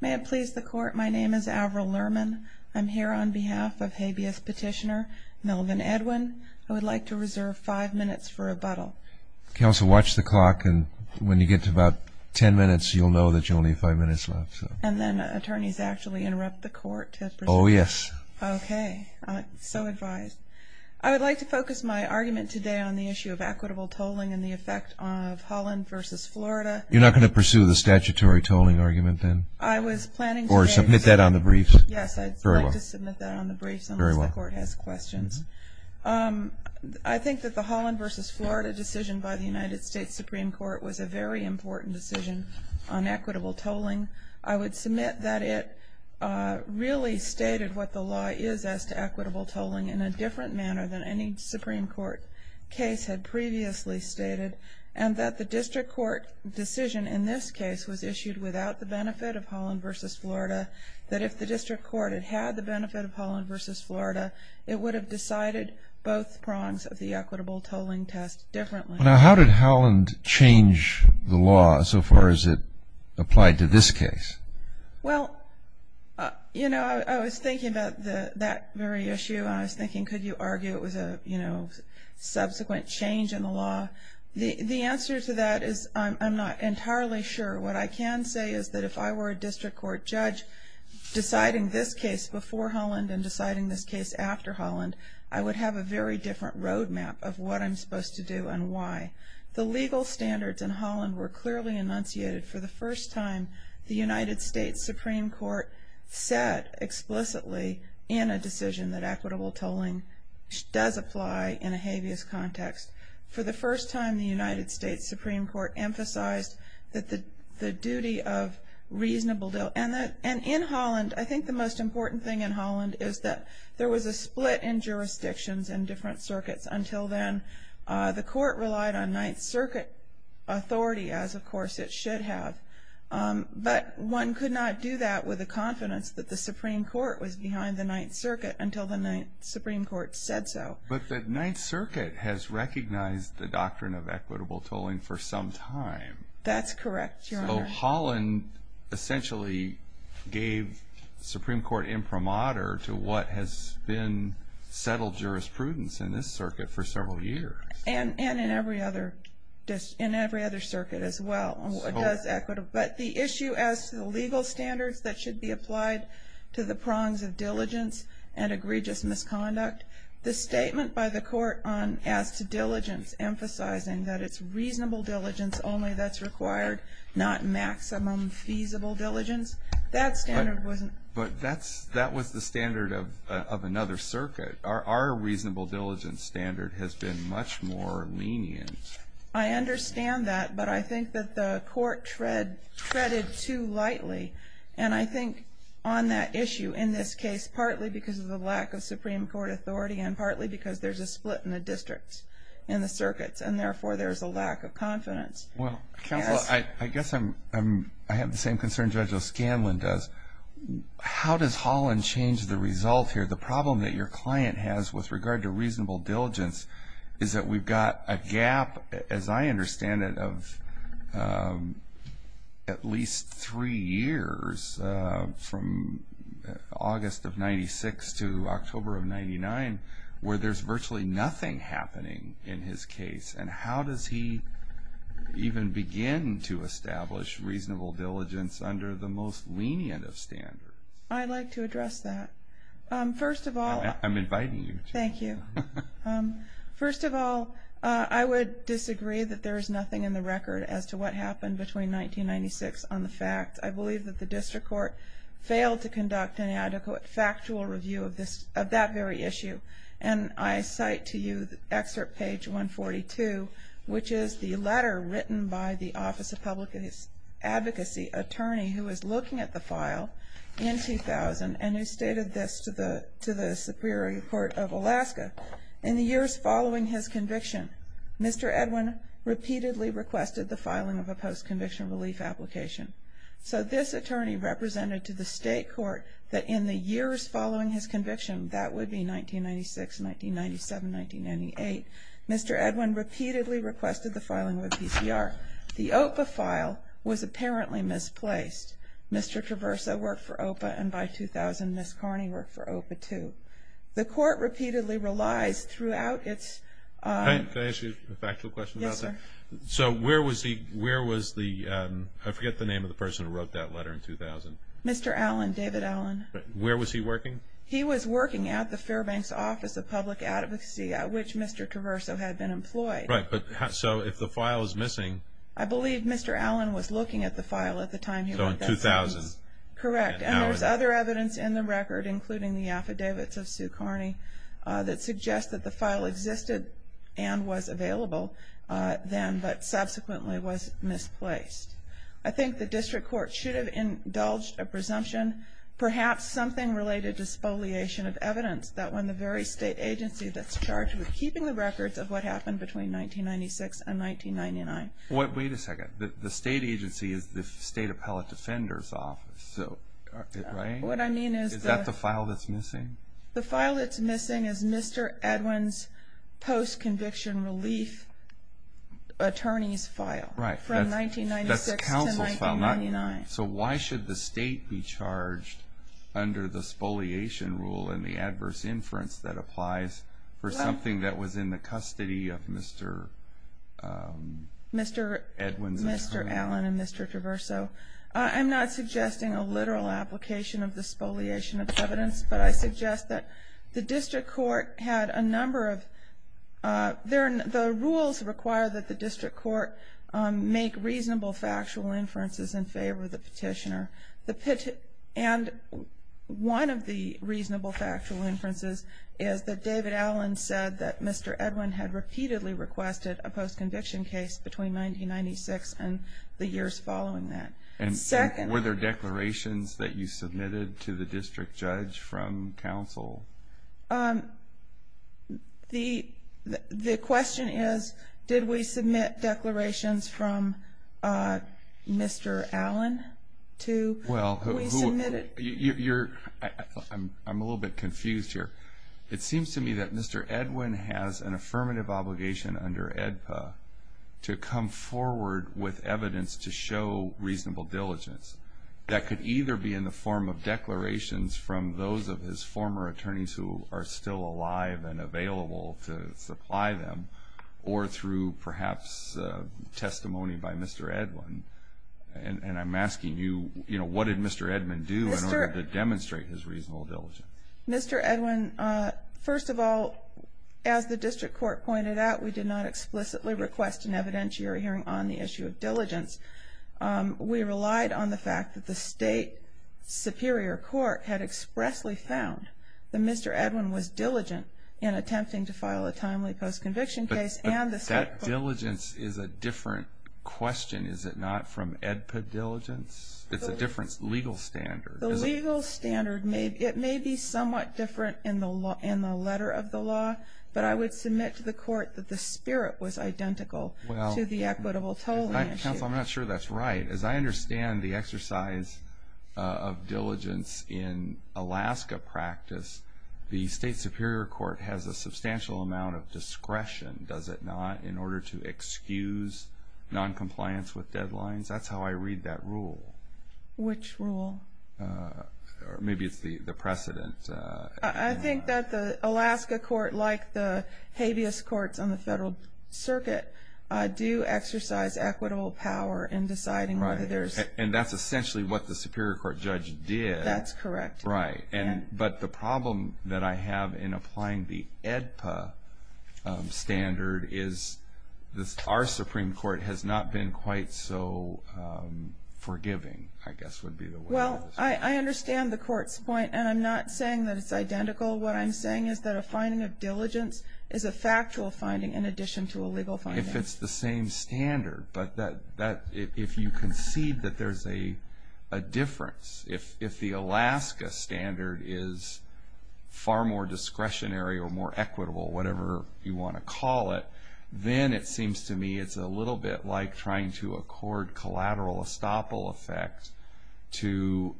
May it please the Court, my name is Avril Lerman. I'm here on behalf of habeas petitioner Melvin Edwin. I would like to reserve five minutes for rebuttal. Counsel, watch the clock, and when you get to about ten minutes, you'll know that you only have five minutes left. And then attorneys actually interrupt the Court to proceed? Oh, yes. Okay, so advised. I would like to focus my argument today on the issue of equitable tolling and the effect of Holland v. Florida. You're not going to pursue the statutory tolling argument then? I was planning to. Or submit that on the briefs? Yes, I'd like to submit that on the briefs unless the Court has questions. I think that the Holland v. Florida decision by the United States Supreme Court was a very important decision on equitable tolling. I would submit that it really stated what the law is as to equitable tolling in a different manner than any Supreme Court case had previously stated, and that the district court decision in this case was issued without the benefit of Holland v. Florida, that if the district court had had the benefit of Holland v. Florida, it would have decided both prongs of the equitable tolling test differently. Now, how did Holland change the law so far as it applied to this case? Well, you know, I was thinking about that very issue. I was thinking, could you argue it was a, you know, subsequent change in the law? The answer to that is I'm not entirely sure. What I can say is that if I were a district court judge deciding this case before Holland and deciding this case after Holland, I would have a very different roadmap of what I'm supposed to do and why. The legal standards in Holland were clearly enunciated for the first time the United States Supreme Court set explicitly in a decision that equitable tolling does apply in a habeas context. For the first time, the United States Supreme Court emphasized that the duty of reasonable, and in Holland, I think the most important thing in Holland is that there was a split in jurisdictions and different circuits. Until then, the court relied on Ninth Circuit authority as, of course, it should have. But one could not do that with the confidence that the Supreme Court was behind the Ninth Circuit until the Ninth Supreme Court said so. But the Ninth Circuit has recognized the doctrine of equitable tolling for some time. That's correct, Your Honor. Holland essentially gave Supreme Court imprimatur to what has been settled jurisprudence in this circuit for several years. And in every other circuit as well. But the issue as to the legal standards that should be applied to the prongs of diligence and egregious misconduct, the statement by the court as to diligence emphasizing that it's reasonable diligence only that's required, not maximum feasible diligence, that standard wasn't. But that was the standard of another circuit. Our reasonable diligence standard has been much more lenient. I understand that, but I think that the court treaded too lightly. And I think on that issue, in this case, partly because of the lack of Supreme Court authority and partly because there's a split in the districts and the circuits, and therefore there's a lack of confidence. Counsel, I guess I have the same concern Judge O'Scanlan does. How does Holland change the result here? The problem that your client has with regard to reasonable diligence is that we've got a gap, as I understand it, of at least three years, from August of 96 to October of 99, where there's virtually nothing happening in his case. And how does he even begin to establish reasonable diligence under the most lenient of standards? I'd like to address that. First of all... I'm inviting you to. Thank you. First of all, I would disagree that there is nothing in the record as to what happened between 1996 on the fact. I believe that the district court failed to conduct an adequate factual review of that very issue. And I cite to you excerpt page 142, which is the letter written by the Office of Public Advocacy attorney who was looking at the file in 2000 and who stated this to the Superior Court of Alaska. In the years following his conviction, Mr. Edwin repeatedly requested the filing of a post-conviction relief application. So this attorney represented to the state court that in the years following his conviction, that would be 1996, 1997, 1998, Mr. Edwin repeatedly requested the filing of a PCR. The OPA file was apparently misplaced. Mr. Traverso worked for OPA, and by 2000, Ms. Carney worked for OPA too. The court repeatedly relies throughout its... Can I ask you a factual question about that? Yes, sir. So where was the... I forget the name of the person who wrote that letter in 2000. Mr. Allen, David Allen. Where was he working? He was working at the Fairbanks Office of Public Advocacy, which Mr. Traverso had been employed. Right, but so if the file is missing... I believe Mr. Allen was looking at the file at the time he wrote that letter. So in 2000. Correct. And there's other evidence in the record, including the affidavits of Sue Carney, that suggest that the file existed and was available then, but subsequently was misplaced. I think the district court should have indulged a presumption, perhaps something related to spoliation of evidence, that when the very state agency that's charged with keeping the records of what happened between 1996 and 1999... Wait a second. The state agency is the State Appellate Defender's Office, right? What I mean is... Is that the file that's missing? The file that's missing is Mr. Edwin's post-conviction relief attorney's file from 1996 to 1999. So why should the state be charged under the spoliation rule and the adverse inference that applies for something that was in the custody of Mr. Edwin's attorney? Mr. Allen and Mr. Traverso, I'm not suggesting a literal application of the spoliation of evidence, but I suggest that the district court had a number of... The rules require that the district court make reasonable factual inferences in favor of the petitioner. And one of the reasonable factual inferences is that David Allen said that Mr. Edwin had repeatedly requested a post-conviction case between 1996 and the years following that. And were there declarations that you submitted to the district judge from counsel? The question is, did we submit declarations from Mr. Allen to... Well, you're... I'm a little bit confused here. It seems to me that Mr. Edwin has an affirmative obligation under AEDPA to come forward with evidence to show reasonable diligence that could either be in the form of declarations from those of his former attorneys who are still alive and available to supply them, or through perhaps testimony by Mr. Edwin. And I'm asking you, what did Mr. Edwin do in order to demonstrate his reasonable diligence? Mr. Edwin, first of all, as the district court pointed out, we did not explicitly request an evidentiary hearing on the issue of diligence. We relied on the fact that the state superior court had expressly found that Mr. Edwin was diligent in attempting to file a timely post-conviction case and the... But that diligence is a different question, is it not, from AEDPA diligence? It's a different legal standard. The legal standard, it may be somewhat different in the letter of the law, but I would submit to the court that the spirit was identical to the equitable tolling issue. Counsel, I'm not sure that's right. As I understand the exercise of diligence in Alaska practice, the state superior court has a substantial amount of discretion, does it not, in order to excuse noncompliance with deadlines? That's how I read that rule. Which rule? Maybe it's the precedent. I think that the Alaska court, like the habeas courts on the federal circuit, do exercise equitable power in deciding whether there's... And that's essentially what the superior court judge did. That's correct. Right. But the problem that I have in applying the AEDPA standard is our Supreme Court has not been quite so forgiving, I guess would be the word. Well, I understand the court's point, and I'm not saying that it's identical. What I'm saying is that a finding of diligence is a factual finding in addition to a legal finding. If it's the same standard, but if you concede that there's a difference, if the Alaska standard is far more discretionary or more equitable, whatever you want to call it, then it seems to me it's a little bit like trying to accord collateral estoppel effect to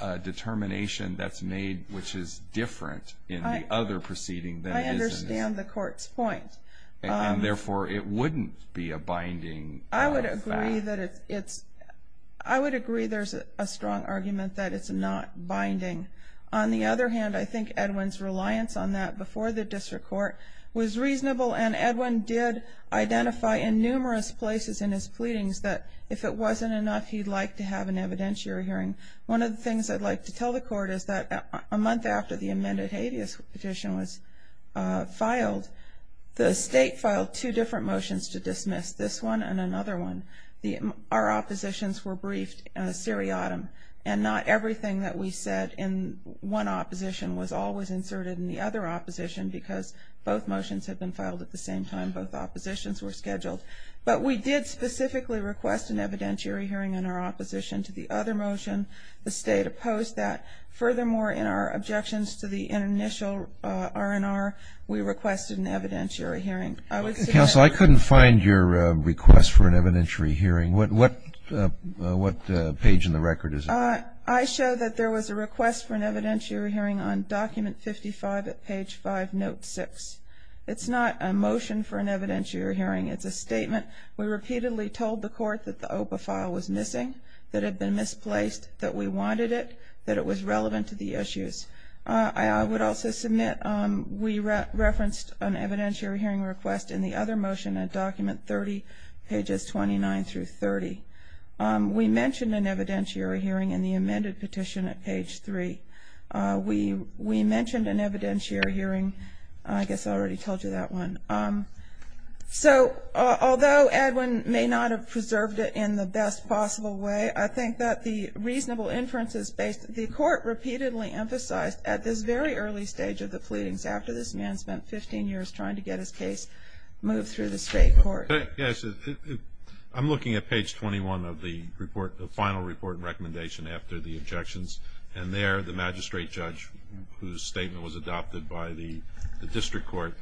a determination that's made which is different in the other proceeding. I understand the court's point. And therefore, it wouldn't be a binding fact. I would agree there's a strong argument that it's not binding. On the other hand, I think Edwin's reliance on that before the district court was reasonable, and Edwin did identify in numerous places in his pleadings that if it wasn't enough, he'd like to have an evidentiary hearing. One of the things I'd like to tell the court is that a month after the amended habeas petition was filed, the state filed two different motions to dismiss, this one and another one. Our oppositions were briefed in a seriatim, and not everything that we said in one opposition was always inserted in the other opposition because both motions had been filed at the same time both oppositions were scheduled. But we did specifically request an evidentiary hearing in our opposition to the other motion. The state opposed that. Furthermore, in our objections to the initial R&R, we requested an evidentiary hearing. Counsel, I couldn't find your request for an evidentiary hearing. What page in the record is it? I show that there was a request for an evidentiary hearing on document 55 at page 5, note 6. It's not a motion for an evidentiary hearing. It's a statement. We repeatedly told the court that the OPA file was missing, that it had been misplaced, that we wanted it, that it was relevant to the issues. I would also submit we referenced an evidentiary hearing request in the other motion at document 30, pages 29 through 30. We mentioned an evidentiary hearing in the amended petition at page 3. We mentioned an evidentiary hearing. I guess I already told you that one. So although Edwin may not have preserved it in the best possible way, I think that the reasonable inference is based, the court repeatedly emphasized at this very early stage of the pleadings, after this man spent 15 years trying to get his case moved through the state court. Yes, I'm looking at page 21 of the report, the final report and recommendation after the objections. And there the magistrate judge, whose statement was adopted by the district court,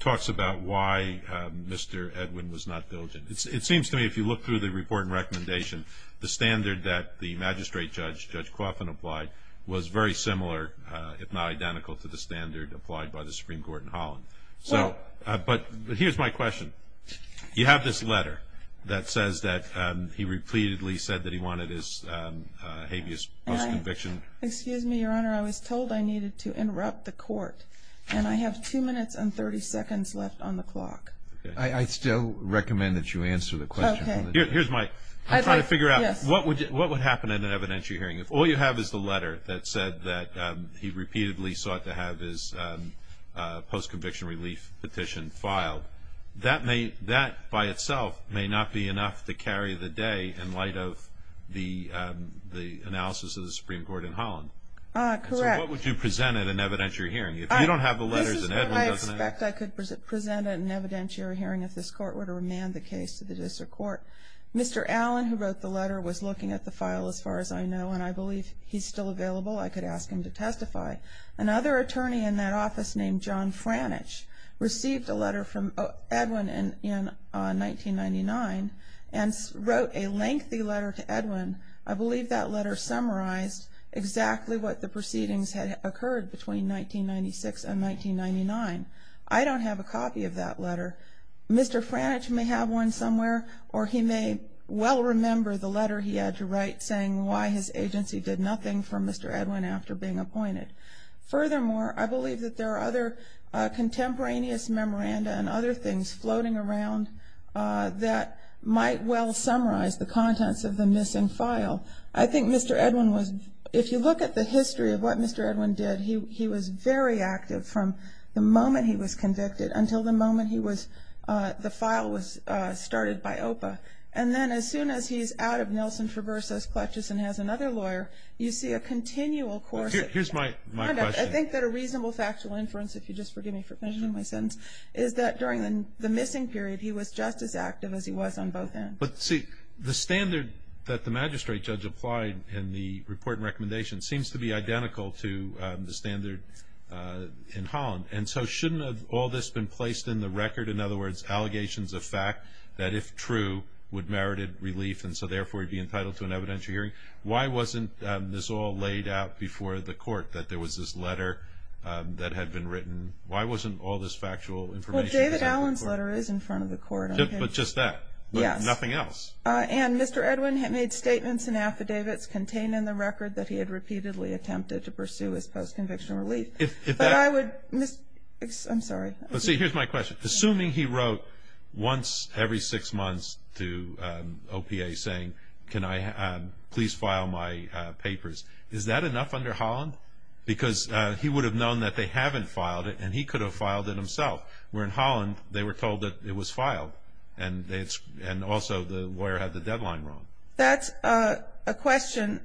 talks about why Mr. Edwin was not diligent. It seems to me if you look through the report and recommendation, the standard that the magistrate judge, Judge Coffin, applied was very similar, if not identical to the standard applied by the Supreme Court in Holland. But here's my question. You have this letter that says that he repeatedly said that he wanted his habeas post-conviction. Excuse me, Your Honor. I was told I needed to interrupt the court, and I have two minutes and 30 seconds left on the clock. I still recommend that you answer the question. Here's my, I'm trying to figure out what would happen in an evidentiary hearing. If all you have is the letter that said that he repeatedly sought to have his post-conviction relief petition filed, that by itself may not be enough to carry the day in light of the analysis of the Supreme Court in Holland. Correct. So what would you present at an evidentiary hearing? If you don't have the letters and Edwin doesn't have them. I expect I could present at an evidentiary hearing if this court were to remand the case to the district court. Mr. Allen, who wrote the letter, was looking at the file as far as I know, and I believe he's still available. I could ask him to testify. Another attorney in that office named John Franish received a letter from Edwin in 1999 and wrote a lengthy letter to Edwin. I believe that letter summarized exactly what the proceedings had occurred between 1996 and 1999. I don't have a copy of that letter. Mr. Franish may have one somewhere, or he may well remember the letter he had to write saying why his agency did nothing for Mr. Edwin after being appointed. Furthermore, I believe that there are other contemporaneous memoranda and other things floating around that might well summarize the contents of the missing file. I think Mr. Edwin was, if you look at the history of what Mr. Edwin did, he was very active from the moment he was convicted until the moment the file was started by OPA. And then as soon as he's out of Nelson Traversa's clutches and has another lawyer, you see a continual course. Here's my question. I think that a reasonable factual inference, if you'll just forgive me for mentioning my sentence, is that during the missing period he was just as active as he was on both ends. But see, the standard that the magistrate judge applied in the report and recommendation seems to be identical to the standard in Holland. And so shouldn't all this have been placed in the record? In other words, allegations of fact that, if true, would merit relief and so therefore he'd be entitled to an evidentiary hearing? Why wasn't this all laid out before the court, that there was this letter that had been written? Why wasn't all this factual information? Well, David Allen's letter is in front of the court. But just that? Yes. But nothing else? And Mr. Edwin had made statements and affidavits contained in the record that he had repeatedly attempted to pursue his post-conviction relief. But I would, I'm sorry. But see, here's my question. Assuming he wrote once every six months to OPA saying, can I please file my papers, is that enough under Holland? Because he would have known that they haven't filed it and he could have filed it himself. Where in Holland, they were told that it was filed. And also the lawyer had the deadline wrong. That's a question.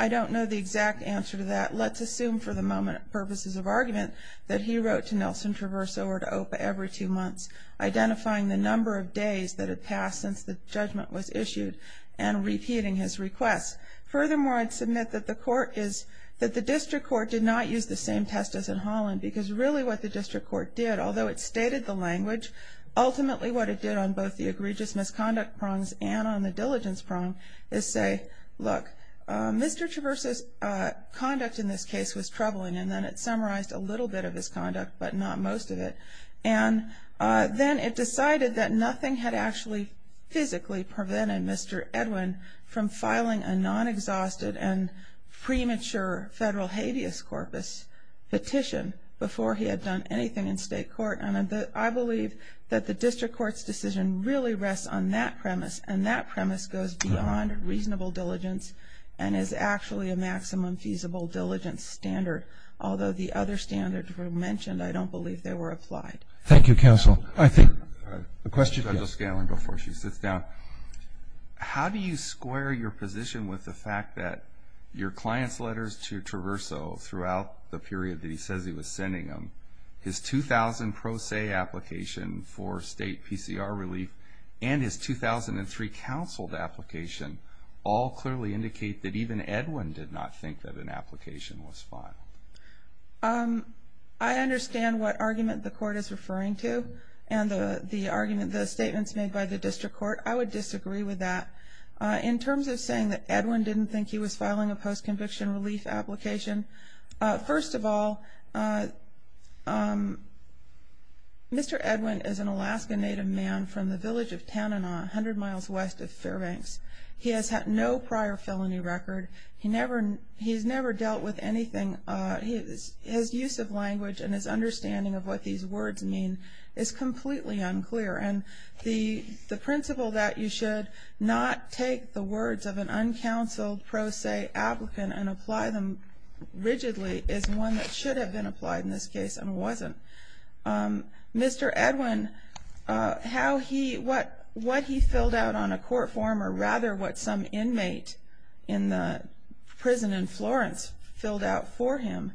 I don't know the exact answer to that. Let's assume for the purposes of argument that he wrote to Nelson Traverso or to OPA every two months identifying the number of days that had passed since the judgment was issued and repeating his request. Furthermore, I'd submit that the court is, that the district court did not use the same test as in Holland because really what the district court did, although it stated the language, ultimately what it did on both the egregious misconduct prongs and on the diligence prong is say, look, Mr. Traverso's conduct in this case was troubling. And then it summarized a little bit of his conduct but not most of it. And then it decided that nothing had actually physically prevented Mr. Edwin from filing a non-exhausted and premature federal habeas corpus petition before he had done anything in state court. And I believe that the district court's decision really rests on that premise and that premise goes beyond reasonable diligence and is actually a maximum feasible diligence standard. Although the other standards were mentioned, I don't believe they were applied. Thank you, counsel. A question. Judge O'Scanlan before she sits down. How do you square your position with the fact that your client's letters to Traverso throughout the period that he says he was sending them, his 2000 pro se application for state PCR relief and his 2003 counseled application all clearly indicate that even Edwin did not think that an application was filed? I understand what argument the court is referring to and the statements made by the district court. I would disagree with that. In terms of saying that Edwin didn't think he was filing a post-conviction relief application, first of all, Mr. Edwin is an Alaska native man from the village of Tanana, 100 miles west of Fairbanks. He has had no prior felony record. He's never dealt with anything. His use of language and his understanding of what these words mean is completely unclear. And the principle that you should not take the words of an uncounseled pro se applicant and apply them rigidly is one that should have been applied in this case and wasn't. Mr. Edwin, what he filled out on a court form, or rather what some inmate in the prison in Florence filled out for him,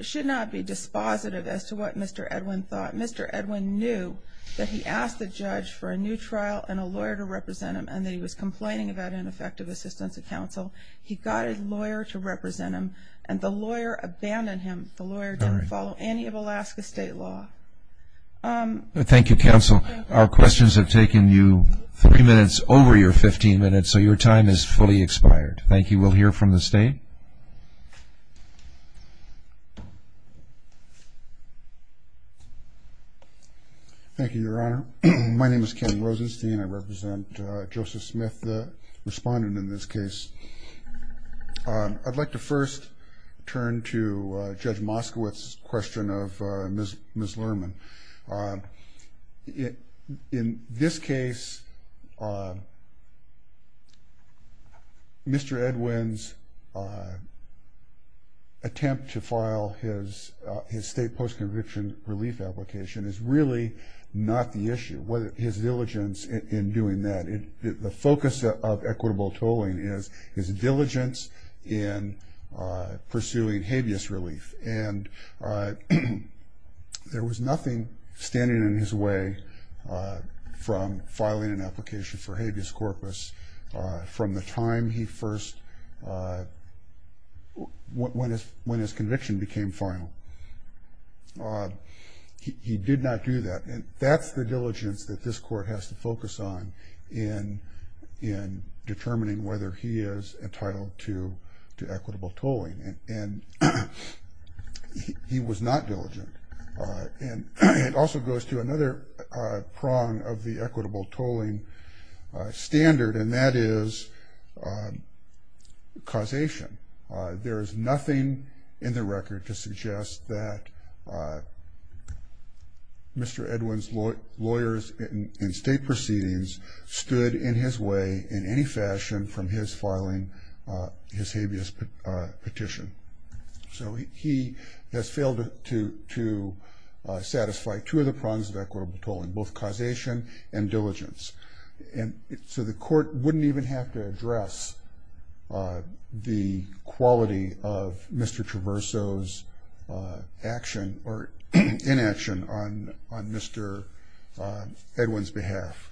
should not be dispositive as to what Mr. Edwin thought. Mr. Edwin knew that he asked the judge for a new trial and a lawyer to represent him and that he was complaining about ineffective assistance of counsel. He got a lawyer to represent him, and the lawyer abandoned him. The lawyer didn't follow any of Alaska state law. Thank you, counsel. Our questions have taken you three minutes over your 15 minutes, so your time is fully expired. Thank you. We'll hear from the state. Thank you, Your Honor. My name is Kenny Rosenstein. I represent Joseph Smith, the respondent in this case. I'd like to first turn to Judge Moskowitz's question of Ms. Lerman. In this case, Mr. Edwin's attempt to file his state post-conviction relief application is really not the issue. His diligence in doing that, the focus of equitable tolling is his diligence in pursuing habeas relief, and there was nothing standing in his way from filing an application for habeas corpus from the time he first, when his conviction became final. He did not do that, and that's the diligence that this court has to focus on in determining whether he is entitled to equitable tolling, and he was not diligent. And it also goes to another prong of the equitable tolling standard, and that is causation. There is nothing in the record to suggest that Mr. Edwin's lawyers and state proceedings stood in his way in any fashion from his filing his habeas petition. So he has failed to satisfy two of the prongs of equitable tolling, both causation and diligence. And so the court wouldn't even have to address the quality of Mr. Traverso's action or inaction on Mr. Edwin's behalf.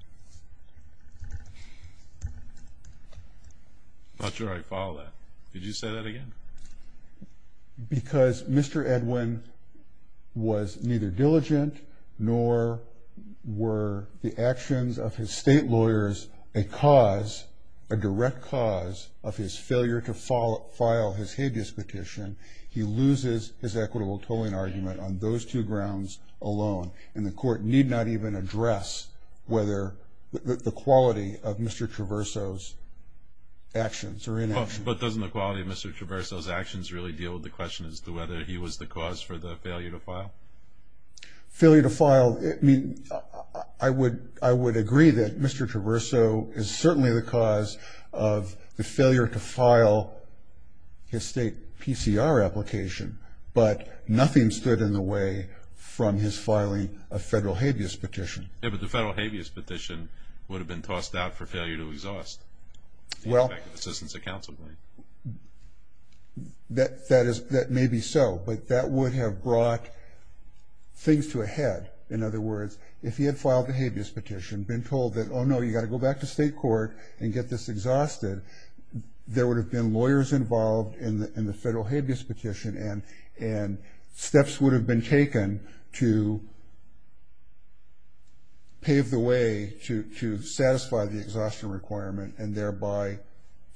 I'm not sure I follow that. Did you say that again? Because Mr. Edwin was neither diligent nor were the actions of his state lawyers a cause, a direct cause of his failure to file his habeas petition, he loses his equitable tolling argument on those two grounds alone, and the court need not even address whether the quality of Mr. Traverso's actions or inaction. But doesn't the quality of Mr. Traverso's actions really deal with the question as to whether he was the cause for the failure to file? Failure to file, I would agree that Mr. Traverso is certainly the cause of the failure to file his state PCR application, but nothing stood in the way from his filing a federal habeas petition. Yeah, but the federal habeas petition would have been tossed out for failure to exhaust the effective assistance of counsel, right? That may be so, but that would have brought things to a head. In other words, if he had filed the habeas petition, been told that, oh, no, you've got to go back to state court and get this exhausted, there would have been lawyers involved in the federal habeas petition, and steps would have been taken to pave the way to satisfy the exhaustion requirement and thereby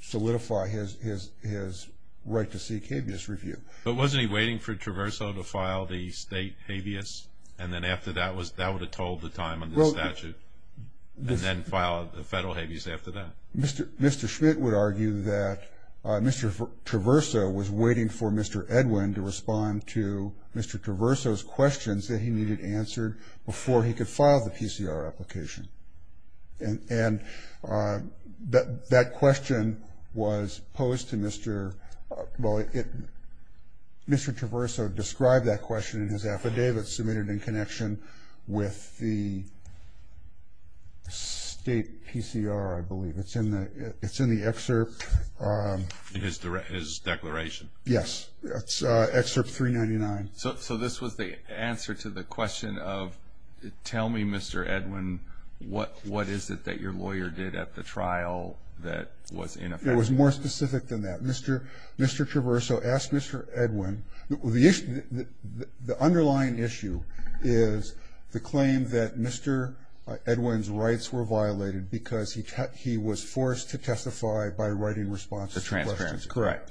solidify his right to seek habeas review. But wasn't he waiting for Traverso to file the state habeas, and then after that that would have tolled the time on the statute, and then file the federal habeas after that? Mr. Schmidt would argue that Mr. Traverso was waiting for Mr. Edwin to respond to Mr. Traverso's questions that he needed answered before he could file the PCR application. And that question was posed to Mr. Well, Mr. Traverso described that question in his affidavit submitted in connection with the state PCR, I believe. It's in the excerpt. In his declaration? Yes. It's excerpt 399. So this was the answer to the question of tell me, Mr. Edwin, what is it that your lawyer did at the trial that was in effect? It was more specific than that. Mr. Traverso asked Mr. Edwin. The underlying issue is the claim that Mr. Edwin's rights were violated because he was forced to testify by writing responses to questions. Correct.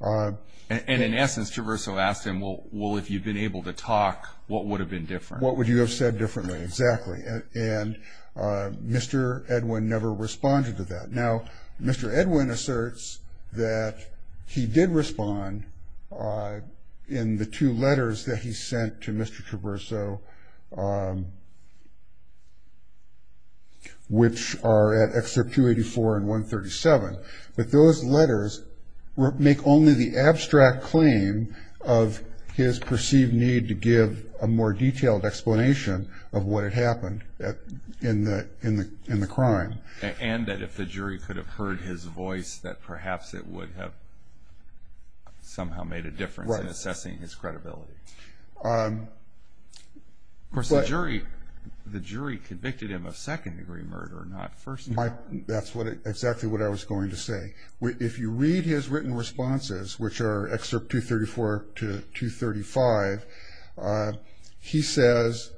And in essence, Traverso asked him, well, if you'd been able to talk, what would have been different? What would you have said differently? Exactly. And Mr. Edwin never responded to that. Now, Mr. Edwin asserts that he did respond in the two letters that he sent to Mr. Traverso, which are at excerpt 284 and 137. But those letters make only the abstract claim of his perceived need to give a more detailed explanation of what had happened in the crime. And that if the jury could have heard his voice, that perhaps it would have somehow made a difference in assessing his credibility. Of course, the jury convicted him of second-degree murder, not first-degree. That's exactly what I was going to say. If you read his written responses, which are excerpt 234 to 235, he says,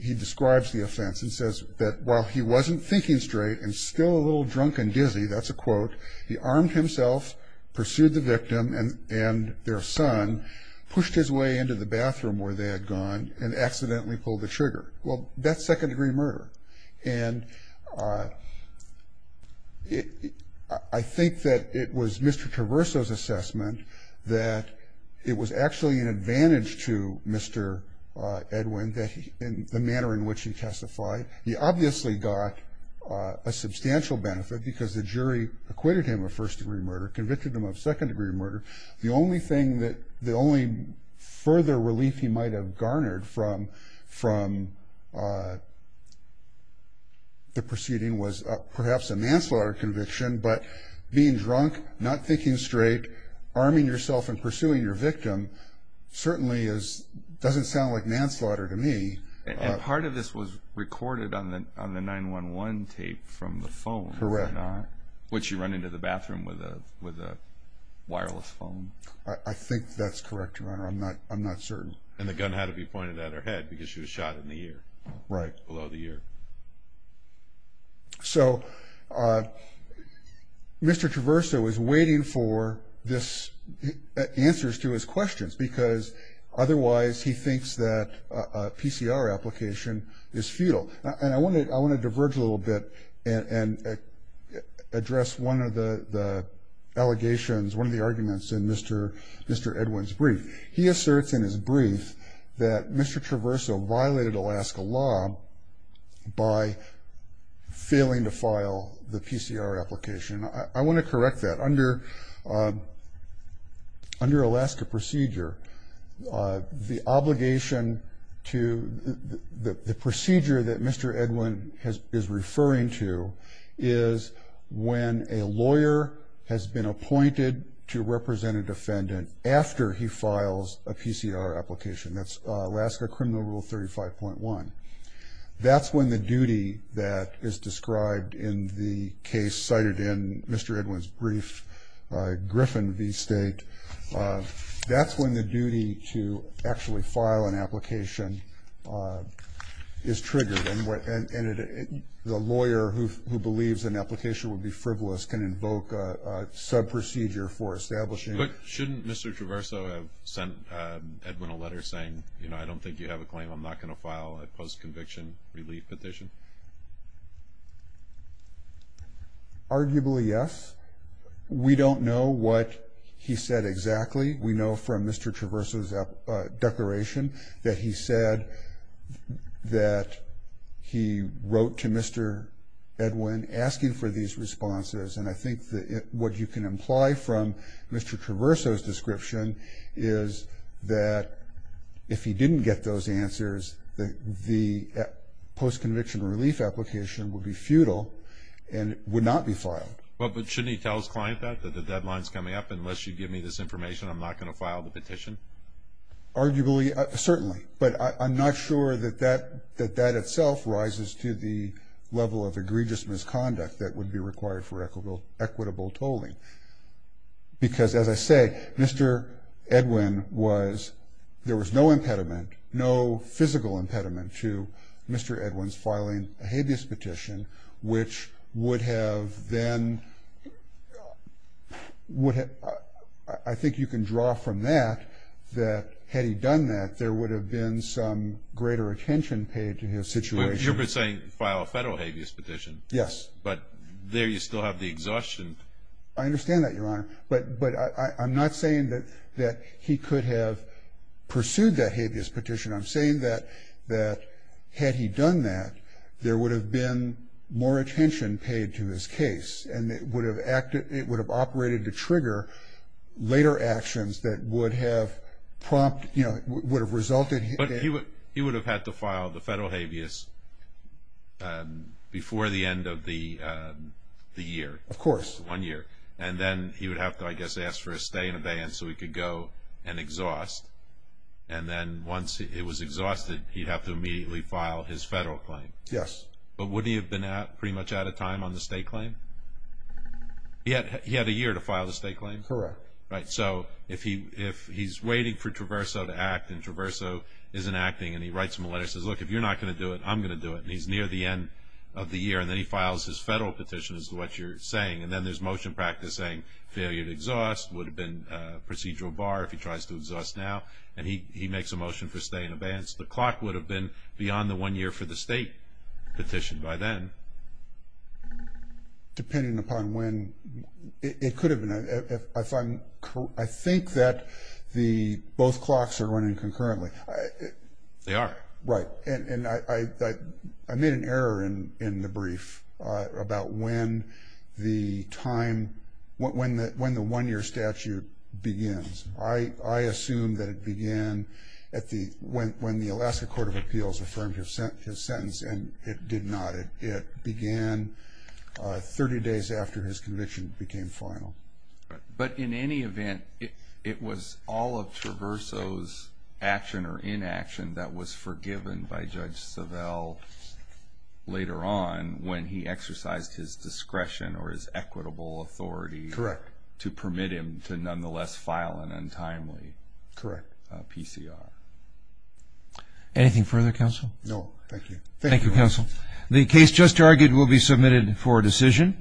he describes the offense and says that while he wasn't thinking straight and still a little drunk and dizzy, that's a quote, he armed himself, pursued the victim, and their son pushed his way into the bathroom where they had gone and accidentally pulled the trigger. Well, that's second-degree murder. And I think that it was Mr. Traverso's assessment that it was actually an advantage to Mr. Edwin, the manner in which he testified. He obviously got a substantial benefit because the jury acquitted him of first-degree murder, convicted him of second-degree murder. The only further relief he might have garnered from the proceeding was perhaps a manslaughter conviction. But being drunk, not thinking straight, arming yourself and pursuing your victim certainly doesn't sound like manslaughter to me. And part of this was recorded on the 911 tape from the phone, was it not? Correct. Which you run into the bathroom with a wireless phone. I think that's correct, Your Honor. I'm not certain. And the gun had to be pointed at her head because she was shot in the ear. Right. Below the ear. So Mr. Traverso is waiting for answers to his questions because otherwise he thinks that a PCR application is futile. And I want to diverge a little bit and address one of the allegations, one of the arguments in Mr. Edwin's brief. He asserts in his brief that Mr. Traverso violated Alaska law by failing to file the PCR application. I want to correct that. Under Alaska procedure, the obligation to the procedure that Mr. Edwin is referring to is when a lawyer has been appointed to represent a defendant after he files a PCR application. That's Alaska Criminal Rule 35.1. That's when the duty that is described in the case cited in Mr. Edwin's brief, Griffin v. State, that's when the duty to actually file an application is triggered. And the lawyer who believes an application would be frivolous can invoke a subprocedure for establishing it. Shouldn't Mr. Traverso have sent Edwin a letter saying, you know, I don't think you have a claim, I'm not going to file a post-conviction relief petition? Arguably, yes. We don't know what he said exactly. We know from Mr. Traverso's declaration that he said that he wrote to Mr. Edwin asking for these responses. And I think what you can imply from Mr. Traverso's description is that if he didn't get those answers, the post-conviction relief application would be futile and would not be filed. But shouldn't he tell his client that, that the deadline is coming up? Unless you give me this information, I'm not going to file the petition? Arguably, certainly. But I'm not sure that that itself rises to the level of egregious misconduct that would be required for equitable tolling. Because, as I say, Mr. Edwin was, there was no impediment, no physical impediment to Mr. Edwin's filing a habeas petition, which would have then, would have, I think you can draw from that, that had he done that, there would have been some greater attention paid to his situation. You're saying file a federal habeas petition. Yes. But there you still have the exhaustion. I understand that, Your Honor. But I'm not saying that he could have pursued that habeas petition. I'm saying that had he done that, there would have been more attention paid to his case and it would have operated to trigger later actions that would have prompted, you know, would have resulted in. But he would have had to file the federal habeas before the end of the year. Of course. One year. And then he would have to, I guess, ask for a stay and abeyance so he could go and exhaust. And then once it was exhausted, he'd have to immediately file his federal claim. Yes. But wouldn't he have been pretty much out of time on the state claim? He had a year to file the state claim. Correct. Right. So if he's waiting for Traverso to act and Traverso isn't acting and he writes him a letter and says, look, if you're not going to do it, I'm going to do it, and he's near the end of the year, and then he files his federal petition as to what you're saying, and then there's motion practice saying, failure to exhaust would have been procedural bar if he tries to exhaust now, and he makes a motion for stay and abeyance. The clock would have been beyond the one year for the state petition by then. Depending upon when. It could have been. I think that the both clocks are running concurrently. They are. Right. And I made an error in the brief about when the time, when the one-year statute begins. I assume that it began when the Alaska Court of Appeals affirmed his sentence, and it did not. It began 30 days after his conviction became final. But in any event, it was all of Traverso's action or inaction that was forgiven by Judge Savelle later on when he exercised his discretion or his equitable authority. Correct. To permit him to nonetheless file an untimely. Correct. PCR. Anything further, counsel? No, thank you. Thank you, counsel. The case just argued will be submitted for decision.